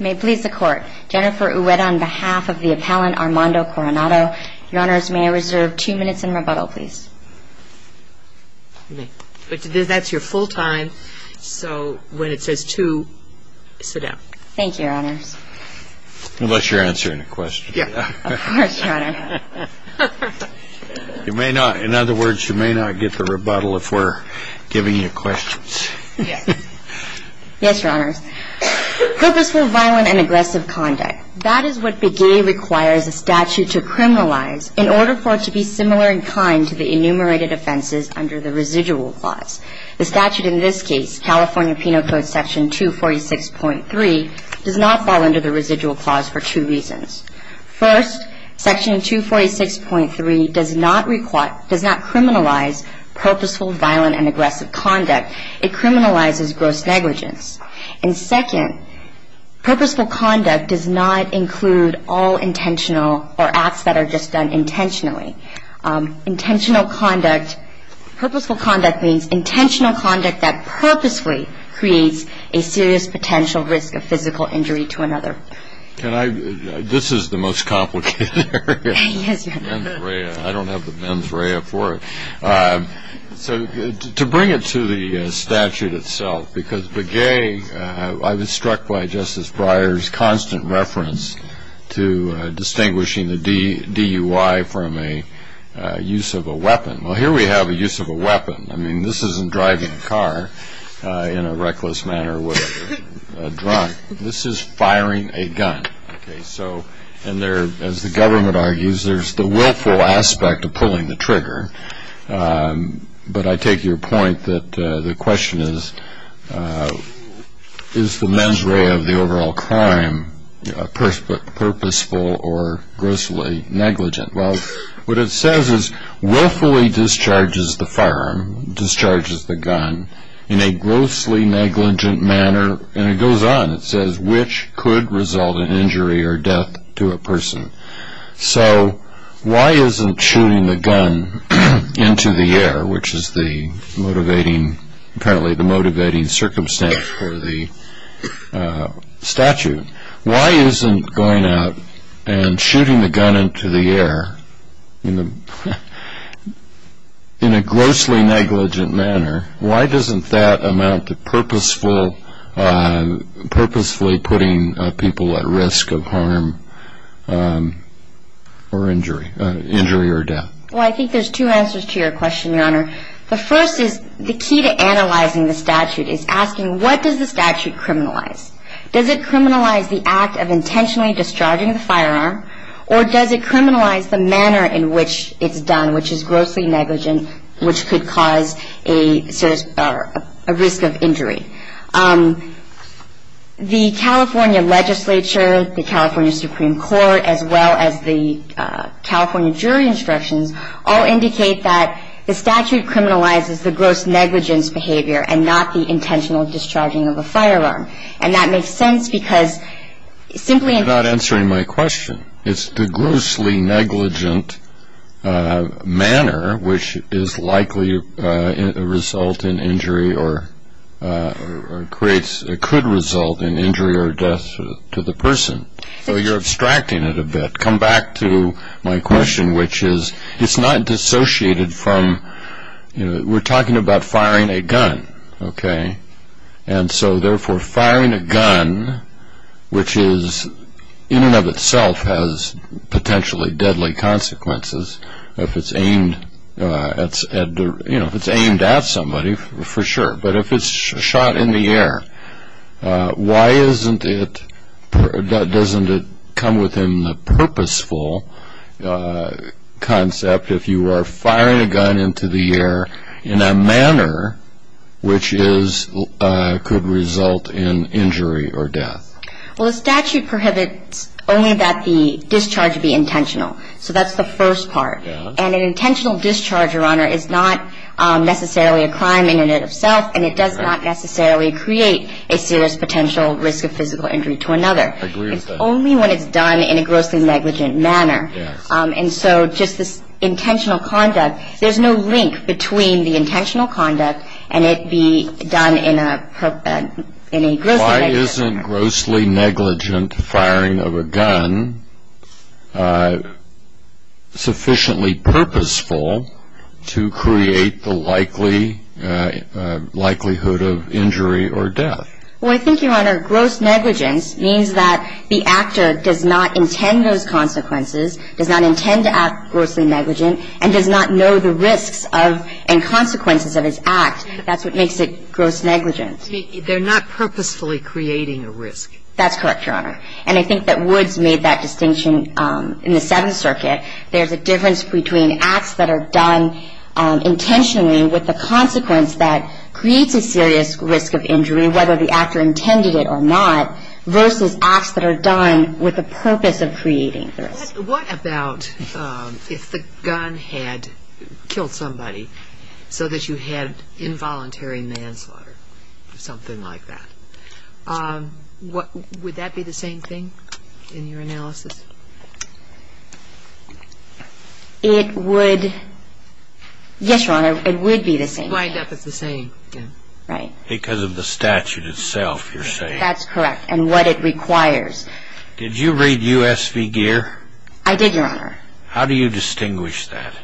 May it please the court, Jennifer Uweda on behalf of the appellant Armando Coronado, your honors, may I reserve two minutes in rebuttal, please? That's your full time, so when it says two, sit down. Thank you, your honors. Unless you're answering a question. Of course, your honor. In other words, you may not get the rebuttal if we're giving you questions. Yes, your honors. Purposeful, violent, and aggressive conduct. That is what BEGAE requires a statute to criminalize in order for it to be similar in kind to the enumerated offenses under the residual clause. The statute in this case, California Penal Code Section 246.3, does not fall under the residual clause for two reasons. First, Section 246.3 does not criminalize purposeful, violent, and aggressive conduct. It criminalizes gross negligence. And second, purposeful conduct does not include all intentional or acts that are just done intentionally. Intentional conduct, purposeful conduct means intentional conduct that purposefully creates a serious potential risk of physical injury to another. Can I, this is the most complicated area. Yes, your honor. I don't have the mens rea for it. So to bring it to the statute itself, because BEGAE, I was struck by Justice Breyer's constant reference to distinguishing the DUI from a use of a weapon. Well, here we have a use of a weapon. I mean, this isn't driving a car in a reckless manner with a drunk. This is firing a gun. Okay, so, and there, as the government argues, there's the willful aspect of pulling the trigger. But I take your point that the question is, is the mens rea of the overall crime purposeful or grossly negligent? Well, what it says is willfully discharges the firearm, discharges the gun in a grossly negligent manner. And it goes on. It says which could result in injury or death to a person. So why isn't shooting the gun into the air, which is the motivating, apparently the motivating circumstance for the statute, why isn't going out and shooting the gun into the air in a grossly negligent manner, why doesn't that amount to purposefully putting people at risk of harm or injury, injury or death? Well, I think there's two answers to your question, Your Honor. The first is the key to analyzing the statute is asking what does the statute criminalize? Does it criminalize the act of intentionally discharging the firearm, or does it criminalize the manner in which it's done, which is grossly negligent, which could cause a risk of injury? The California legislature, the California Supreme Court, as well as the California jury instructions all indicate that the statute criminalizes the gross negligence behavior and not the intentional discharging of a firearm. And that makes sense because simply in terms of the statute. You're not answering my question. It's the grossly negligent manner which is likely a result in injury or creates, it could result in injury or death to the person. So you're abstracting it a bit. Come back to my question, which is it's not dissociated from, you know, we're talking about firing a gun, okay? And so therefore firing a gun, which is in and of itself has potentially deadly consequences, if it's aimed at somebody for sure. But if it's shot in the air, why isn't it, doesn't it come within the purposeful concept if you are firing a gun into the air in a manner which could result in injury or death? Well, the statute prohibits only that the discharge be intentional. So that's the first part. And an intentional discharge, Your Honor, is not necessarily a crime in and of itself, and it does not necessarily create a serious potential risk of physical injury to another. It's only when it's done in a grossly negligent manner. And so just this intentional conduct, there's no link between the intentional conduct and it be done in a grossly negligent manner. Why isn't grossly negligent firing of a gun sufficiently purposeful to create the likelihood of injury or death? Well, I think, Your Honor, gross negligence means that the actor does not intend those consequences, does not intend to act grossly negligent, and does not know the risks of and consequences of his act. That's what makes it gross negligence. They're not purposefully creating a risk. That's correct, Your Honor. And I think that Woods made that distinction in the Seventh Circuit. There's a difference between acts that are done intentionally with a consequence that creates a serious risk of injury, whether the actor intended it or not, versus acts that are done with the purpose of creating the risk. What about if the gun had killed somebody so that you had involuntary manslaughter or something like that? Would that be the same thing in your analysis? It would. Yes, Your Honor, it would be the same. It wouldn't wind up as the same. Right. Because of the statute itself, you're saying. That's correct, and what it requires. Did you read U.S. v. Gear? I did, Your Honor. How do you distinguish that?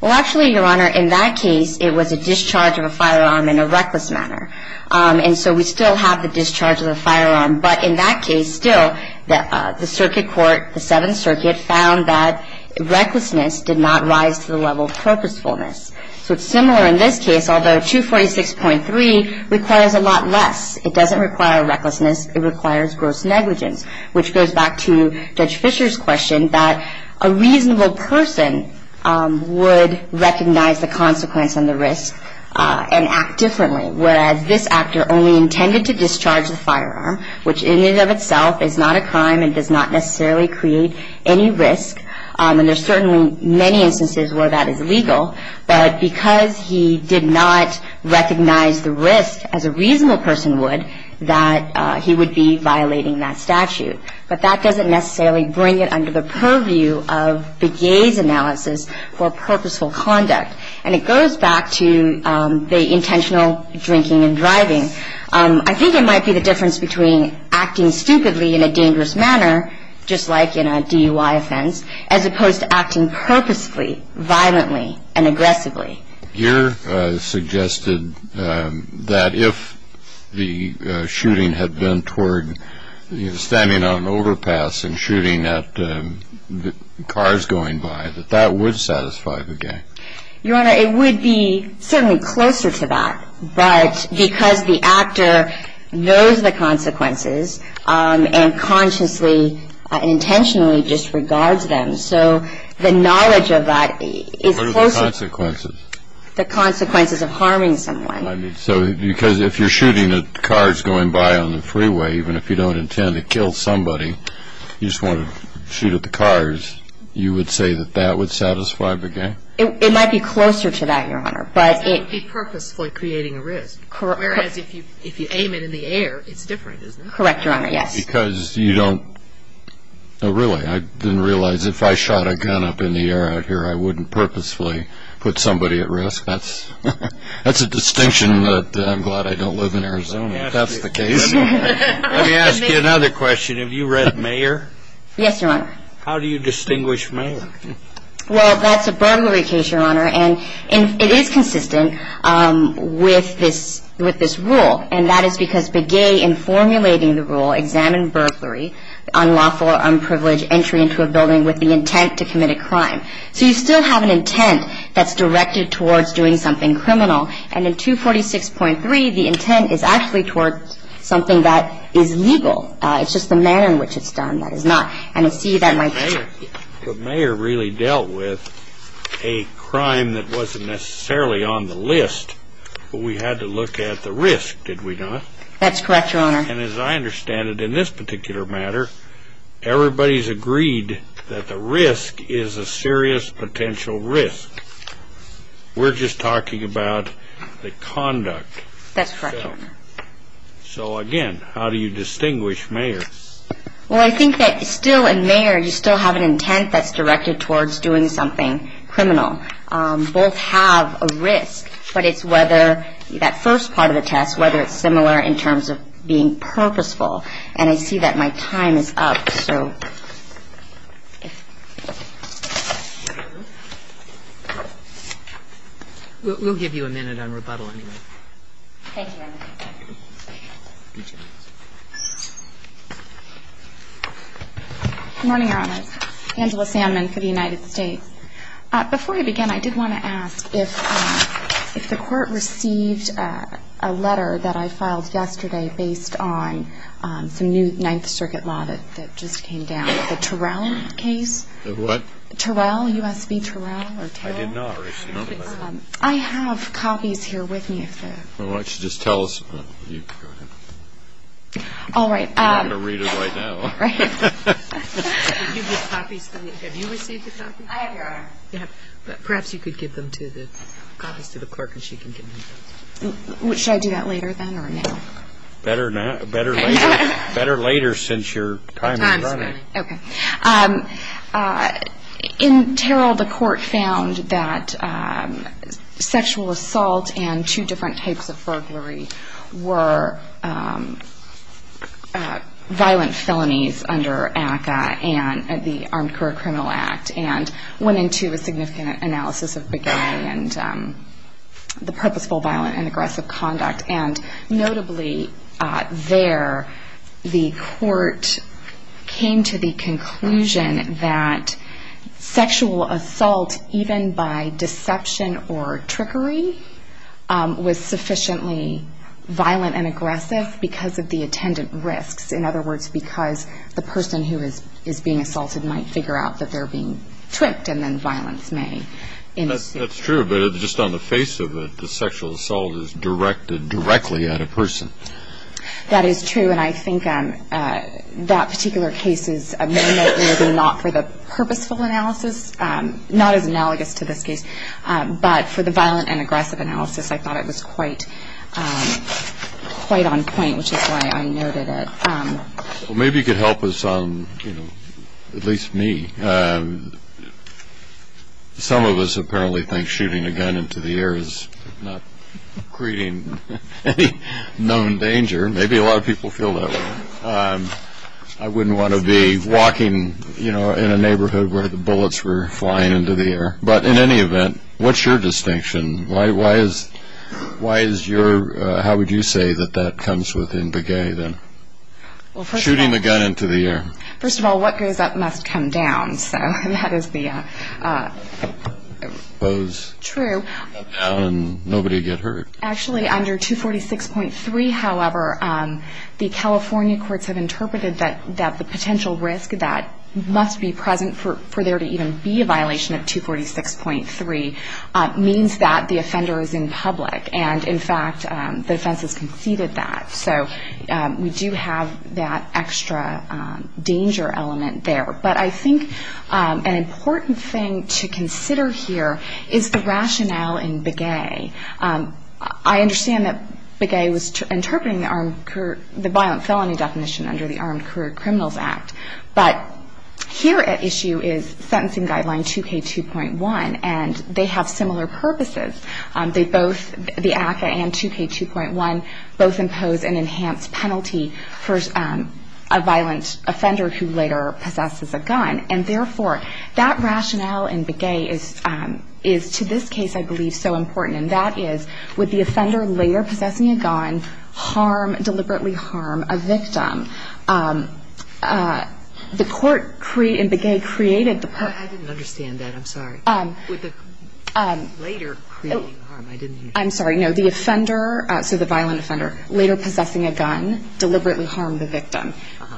Well, actually, Your Honor, in that case, it was a discharge of a firearm in a reckless manner. And so we still have the discharge of the firearm. But in that case, still, the circuit court, the Seventh Circuit, found that recklessness did not rise to the level of purposefulness. So it's similar in this case, although 246.3 requires a lot less. It doesn't require recklessness. It requires gross negligence, which goes back to Judge Fisher's question that a reasonable person would recognize the consequence and the risk and act differently, whereas this actor only intended to discharge the firearm, which in and of itself is not a crime and does not necessarily create any risk. And there's certainly many instances where that is legal. But because he did not recognize the risk, as a reasonable person would, that he would be violating that statute. But that doesn't necessarily bring it under the purview of Begay's analysis for purposeful conduct. And it goes back to the intentional drinking and driving. I think it might be the difference between acting stupidly in a dangerous manner, just like in a DUI offense, as opposed to acting purposefully, violently, and aggressively. Gere suggested that if the shooting had been toward standing on an overpass and shooting at cars going by, that that would satisfy Begay. Your Honor, it would be certainly closer to that. But because the actor knows the consequences and consciously and intentionally disregards them, so the knowledge of that is closer to the consequences of harming someone. I mean, so because if you're shooting at cars going by on the freeway, even if you don't intend to kill somebody, you just want to shoot at the cars, you would say that that would satisfy Begay? It might be closer to that, Your Honor. That would be purposefully creating a risk, whereas if you aim it in the air, it's different, isn't it? Correct, Your Honor, yes. Because you don't – oh, really, I didn't realize. If I shot a gun up in the air out here, I wouldn't purposefully put somebody at risk. That's a distinction that I'm glad I don't live in Arizona. If that's the case. Let me ask you another question. Have you read Mayer? Yes, Your Honor. Well, that's a burglary case, Your Honor. And it is consistent with this rule, and that is because Begay, in formulating the rule, examined burglary, unlawful or unprivileged entry into a building with the intent to commit a crime. So you still have an intent that's directed towards doing something criminal. And in 246.3, the intent is actually towards something that is legal. It's just the manner in which it's done that is not. But Mayer really dealt with a crime that wasn't necessarily on the list, but we had to look at the risk, did we not? That's correct, Your Honor. And as I understand it, in this particular matter, everybody's agreed that the risk is a serious potential risk. We're just talking about the conduct. That's correct, Your Honor. So, again, how do you distinguish Mayer? Well, I think that still in Mayer, you still have an intent that's directed towards doing something criminal. Both have a risk, but it's whether that first part of the test, whether it's similar in terms of being purposeful. And I see that my time is up, so. We'll give you a minute on rebuttal anyway. Thank you, Your Honor. Good morning, Your Honor. Angela Sandman for the United States. Before we begin, I did want to ask if the Court received a letter that I filed yesterday based on some new Ninth Circuit law that just came down, the Terrell case? The what? Terrell, U.S. v. Terrell, or Terrell? I did not receive that. I have copies here with me. Why don't you just tell us? Go ahead. All right. I'm not going to read it right now. Right. Did you get copies? Have you received the copies? I have, Your Honor. Perhaps you could give them to the clerk and she can give them to us. Should I do that later then or now? Better later since your time is running. Okay. In Terrell, the Court found that sexual assault and two different types of burglary were violent felonies under ACCA, the Armed Career Criminal Act, and went into a significant analysis of beguiling and the purposeful violent and aggressive conduct. And notably there, the Court came to the conclusion that sexual assault, even by deception or trickery, was sufficiently violent and aggressive because of the attendant risks. In other words, because the person who is being assaulted might figure out that they're being tricked and then violence may ensue. That's true, but just on the face of it, the sexual assault is directed directly at a person. That is true. And I think that particular case is mainly not for the purposeful analysis, not as analogous to this case, but for the violent and aggressive analysis I thought it was quite on point, which is why I noted it. Well, maybe you could help us on, you know, at least me. Some of us apparently think shooting a gun into the air is not creating any known danger. Maybe a lot of people feel that way. I wouldn't want to be walking, you know, in a neighborhood where the bullets were flying into the air. But in any event, what's your distinction? Why is your, how would you say that that comes within beguiling then? Well, first of all. Shooting a gun into the air. First of all, what goes up must come down, so that is the... Opposed. True. And nobody get hurt. Actually, under 246.3, however, the California courts have interpreted that the potential risk that must be present for there to even be a violation of 246.3 means that the offender is in public. And, in fact, the defense has conceded that. So we do have that extra danger element there. But I think an important thing to consider here is the rationale in Begay. I understand that Begay was interpreting the violent felony definition under the Armed Career Criminals Act. But here at issue is sentencing guideline 2K2.1, and they have similar purposes. They both, the ACCA and 2K2.1, both impose an enhanced penalty for a violent offender who later possesses a gun. And, therefore, that rationale in Begay is to this case, I believe, so important, and that is would the offender later possessing a gun harm, deliberately harm a victim? The court in Begay created the... I didn't understand that. I'm sorry. No, the offender, so the violent offender, later possessing a gun deliberately harmed the victim.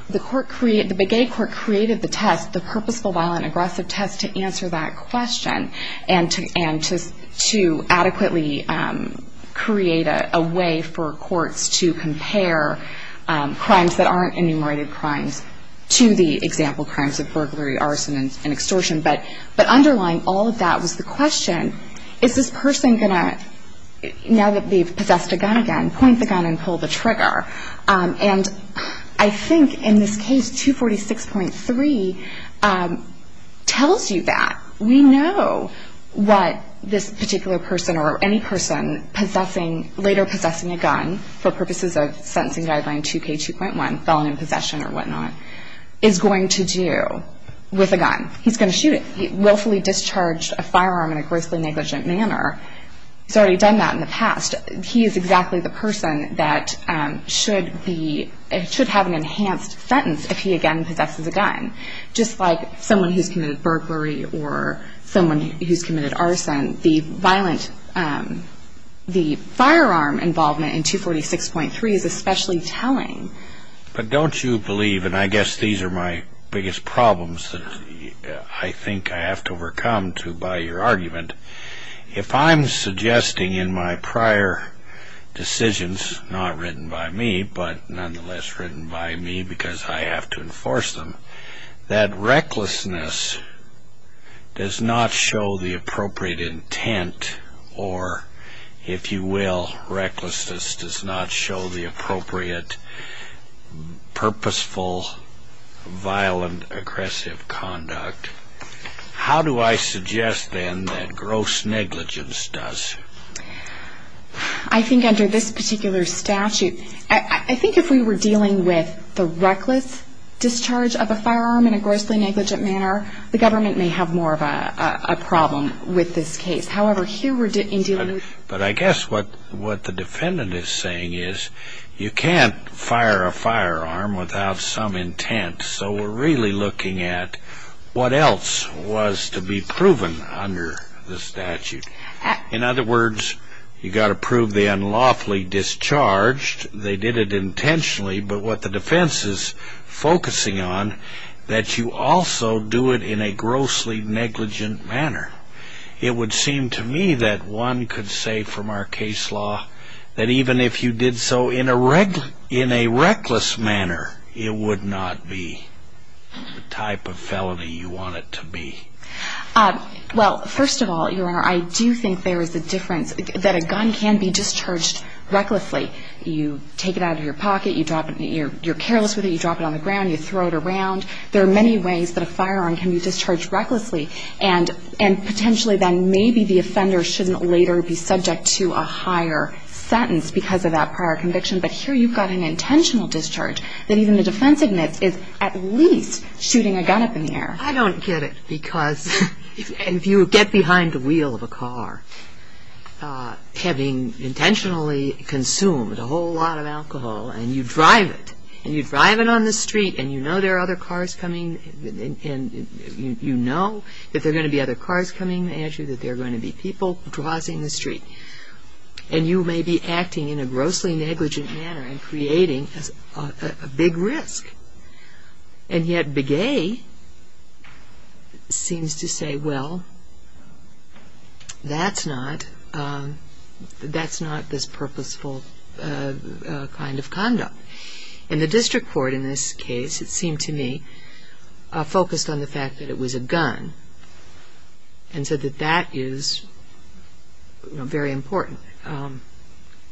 The court created, the Begay court created the test, the purposeful violent aggressive test to answer that question and to adequately create a way for courts to compare crimes that aren't enumerated crimes to the example crimes of burglary, arson, and extortion. But underlying all of that was the question, is this person going to, now that they've possessed a gun again, point the gun and pull the trigger? And I think in this case, 246.3 tells you that. We know what this particular person or any person later possessing a gun for purposes of sentencing guideline 2K2.1, felony possession or whatnot, is going to do with a gun. He's going to shoot it. He willfully discharged a firearm in a grossly negligent manner. He's already done that in the past. He is exactly the person that should be, should have an enhanced sentence if he again possesses a gun. Just like someone who's committed burglary or someone who's committed arson, the violent, the firearm involvement in 246.3 is especially telling. But don't you believe, and I guess these are my biggest problems that I think I have to overcome to buy your argument. If I'm suggesting in my prior decisions, not written by me, but nonetheless written by me because I have to enforce them, that recklessness does not show the appropriate intent or, if you will, recklessness does not show the appropriate purposeful, violent, aggressive conduct, how do I suggest then that gross negligence does? I think under this particular statute, I think if we were dealing with the reckless discharge of a firearm in a grossly negligent manner, the government may have more of a problem with this case. But I guess what the defendant is saying is you can't fire a firearm without some intent, so we're really looking at what else was to be proven under the statute. In other words, you've got to prove the unlawfully discharged. They did it intentionally, but what the defense is focusing on, that you also do it in a grossly negligent manner. It would seem to me that one could say from our case law that even if you did so in a reckless manner, it would not be the type of felony you want it to be. Well, first of all, Your Honor, I do think there is a difference, that a gun can be discharged recklessly. You take it out of your pocket, you're careless with it, you drop it on the ground, you throw it around. There are many ways that a firearm can be discharged recklessly, and potentially then maybe the offender shouldn't later be subject to a higher sentence because of that prior conviction. But here you've got an intentional discharge that even the defense admits is at least shooting a gun up in the air. I don't get it, because if you get behind the wheel of a car, having intentionally consumed a whole lot of alcohol, and you drive it, and you drive it on the street and you know there are other cars coming, and you know that there are going to be other cars coming at you, that there are going to be people crossing the street, and you may be acting in a grossly negligent manner and creating a big risk, and yet Begay seems to say, well, that's not this purposeful kind of conduct. And the district court in this case, it seemed to me, focused on the fact that it was a gun, and said that that is very important.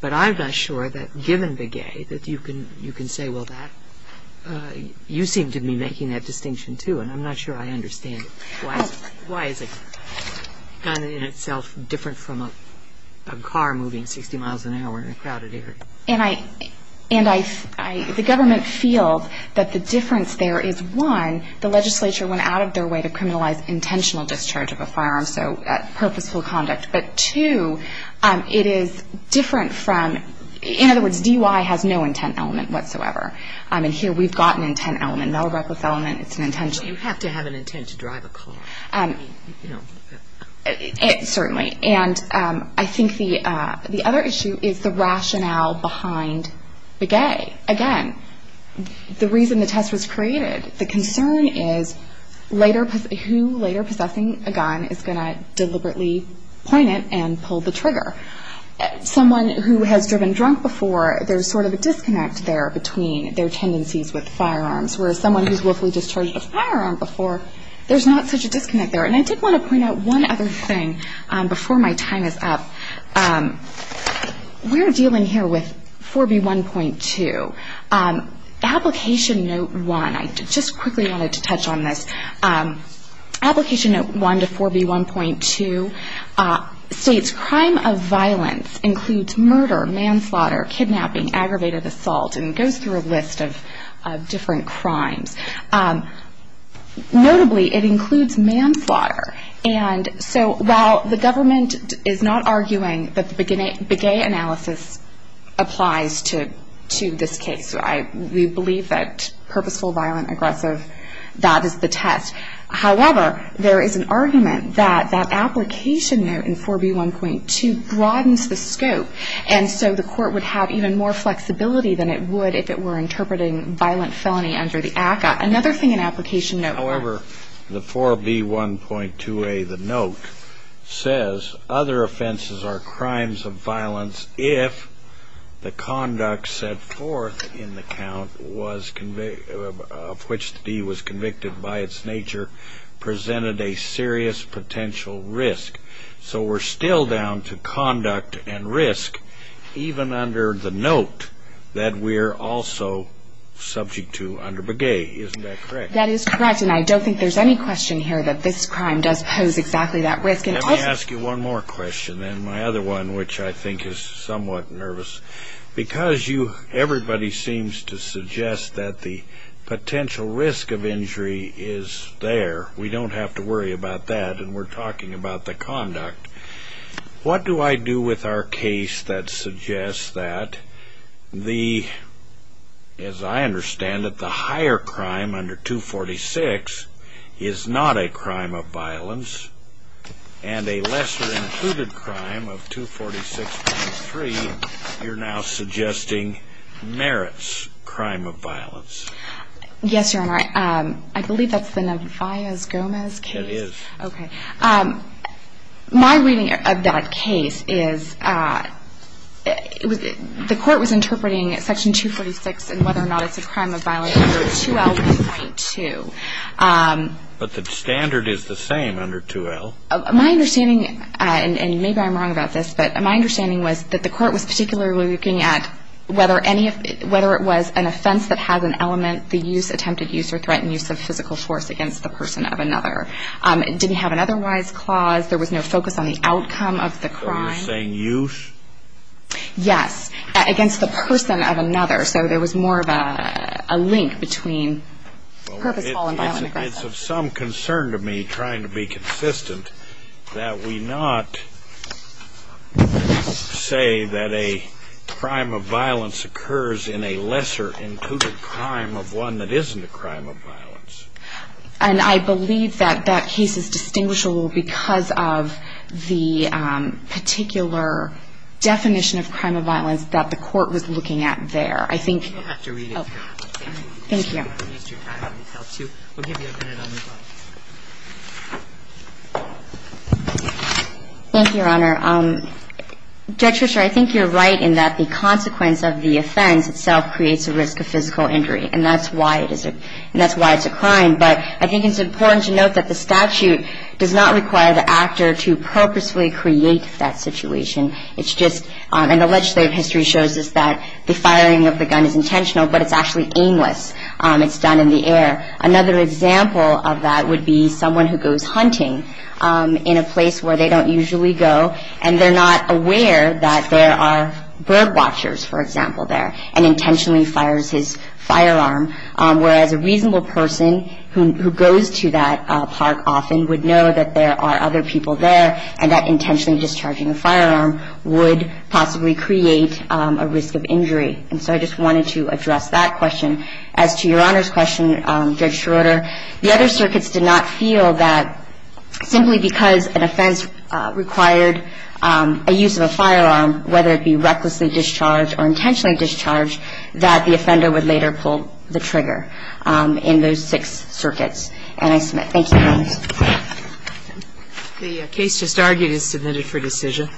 But I'm not sure that given Begay that you can say, well, you seem to be making that distinction too, and I'm not sure I understand it. Why is a gun in itself different from a car moving 60 miles an hour in a crowded area? And the government feels that the difference there is, one, the legislature went out of their way to criminalize intentional discharge of a firearm, so purposeful conduct, but two, it is different from, in other words, DUI has no intent element whatsoever. And here we've got an intent element, no reckless element, it's an intention. You have to have an intent to drive a car. Certainly. And I think the other issue is the rationale behind Begay. Again, the reason the test was created, the concern is who later possessing a gun is going to deliberately point it and pull the trigger. Someone who has driven drunk before, there's sort of a disconnect there between their tendencies with firearms, whereas someone who's willfully discharged a firearm before, there's not such a disconnect there. And I did want to point out one other thing before my time is up. We're dealing here with 4B1.2. Application Note 1, I just quickly wanted to touch on this. Application Note 1 to 4B1.2 states, Crime of violence includes murder, manslaughter, kidnapping, aggravated assault, and goes through a list of different crimes. Notably, it includes manslaughter. And so while the government is not arguing that the Begay analysis applies to this case, we believe that purposeful, violent, aggressive, that is the test. However, there is an argument that that application note in 4B1.2 broadens the scope, and so the Court would have even more flexibility than it would if it were interpreting violent felony under the ACCA. Another thing in Application Note 1. However, the 4B1.2a, the note, says, Other offenses are crimes of violence if the conduct set forth in the count was of which the deed was convicted by its nature presented a serious potential risk. So we're still down to conduct and risk even under the note that we're also subject to under Begay. Isn't that correct? That is correct, and I don't think there's any question here that this crime does pose exactly that risk. Let me ask you one more question, and my other one, which I think is somewhat nervous. Because everybody seems to suggest that the potential risk of injury is there, we don't have to worry about that, and we're talking about the conduct. What do I do with our case that suggests that the, as I understand it, the higher crime under 246 is not a crime of violence, and a lesser included crime of 246.3, you're now suggesting, merits crime of violence? Yes, Your Honor. I believe that's the Nevarez-Gomez case. It is. Okay. My reading of that case is the court was interpreting Section 246 and whether or not it's a crime of violence under 2L1.2. But the standard is the same under 2L. My understanding, and maybe I'm wrong about this, but my understanding was that the court was particularly looking at whether it was an offense that has an element, the use, attempted use, or threatened use of physical force against the person of another. It didn't have an otherwise clause. There was no focus on the outcome of the crime. So you're saying use? Yes, against the person of another. So there was more of a link between purposeful and violent aggression. It's of some concern to me, trying to be consistent, that we not say that a crime of violence occurs in a lesser included crime of one that isn't a crime of violence. And I believe that that case is distinguishable because of the particular definition of crime of violence that the court was looking at there. I think you're right in that the consequence of the offense itself creates a risk of physical injury. And that's why it's a crime. But I think it's important to note that the statute does not require the actor to purposefully create that situation. And the legislative history shows us that the firing of the gun is intentional, but it's actually aimless. It's done in the air. Another example of that would be someone who goes hunting in a place where they don't usually go, and they're not aware that there are bird watchers, for example, there, and intentionally fires his firearm, whereas a reasonable person who goes to that park often would know that there are other people there and that intentionally discharging a firearm would possibly create a risk of injury. And so I just wanted to address that question. As to Your Honor's question, Judge Schroeder, the other circuits did not feel that simply because an offense required a use of a firearm, whether it be recklessly discharged or intentionally discharged, that the offender would later pull the trigger in those six circuits. And I submit. Thank you, Your Honor. The case just argued is submitted for decision.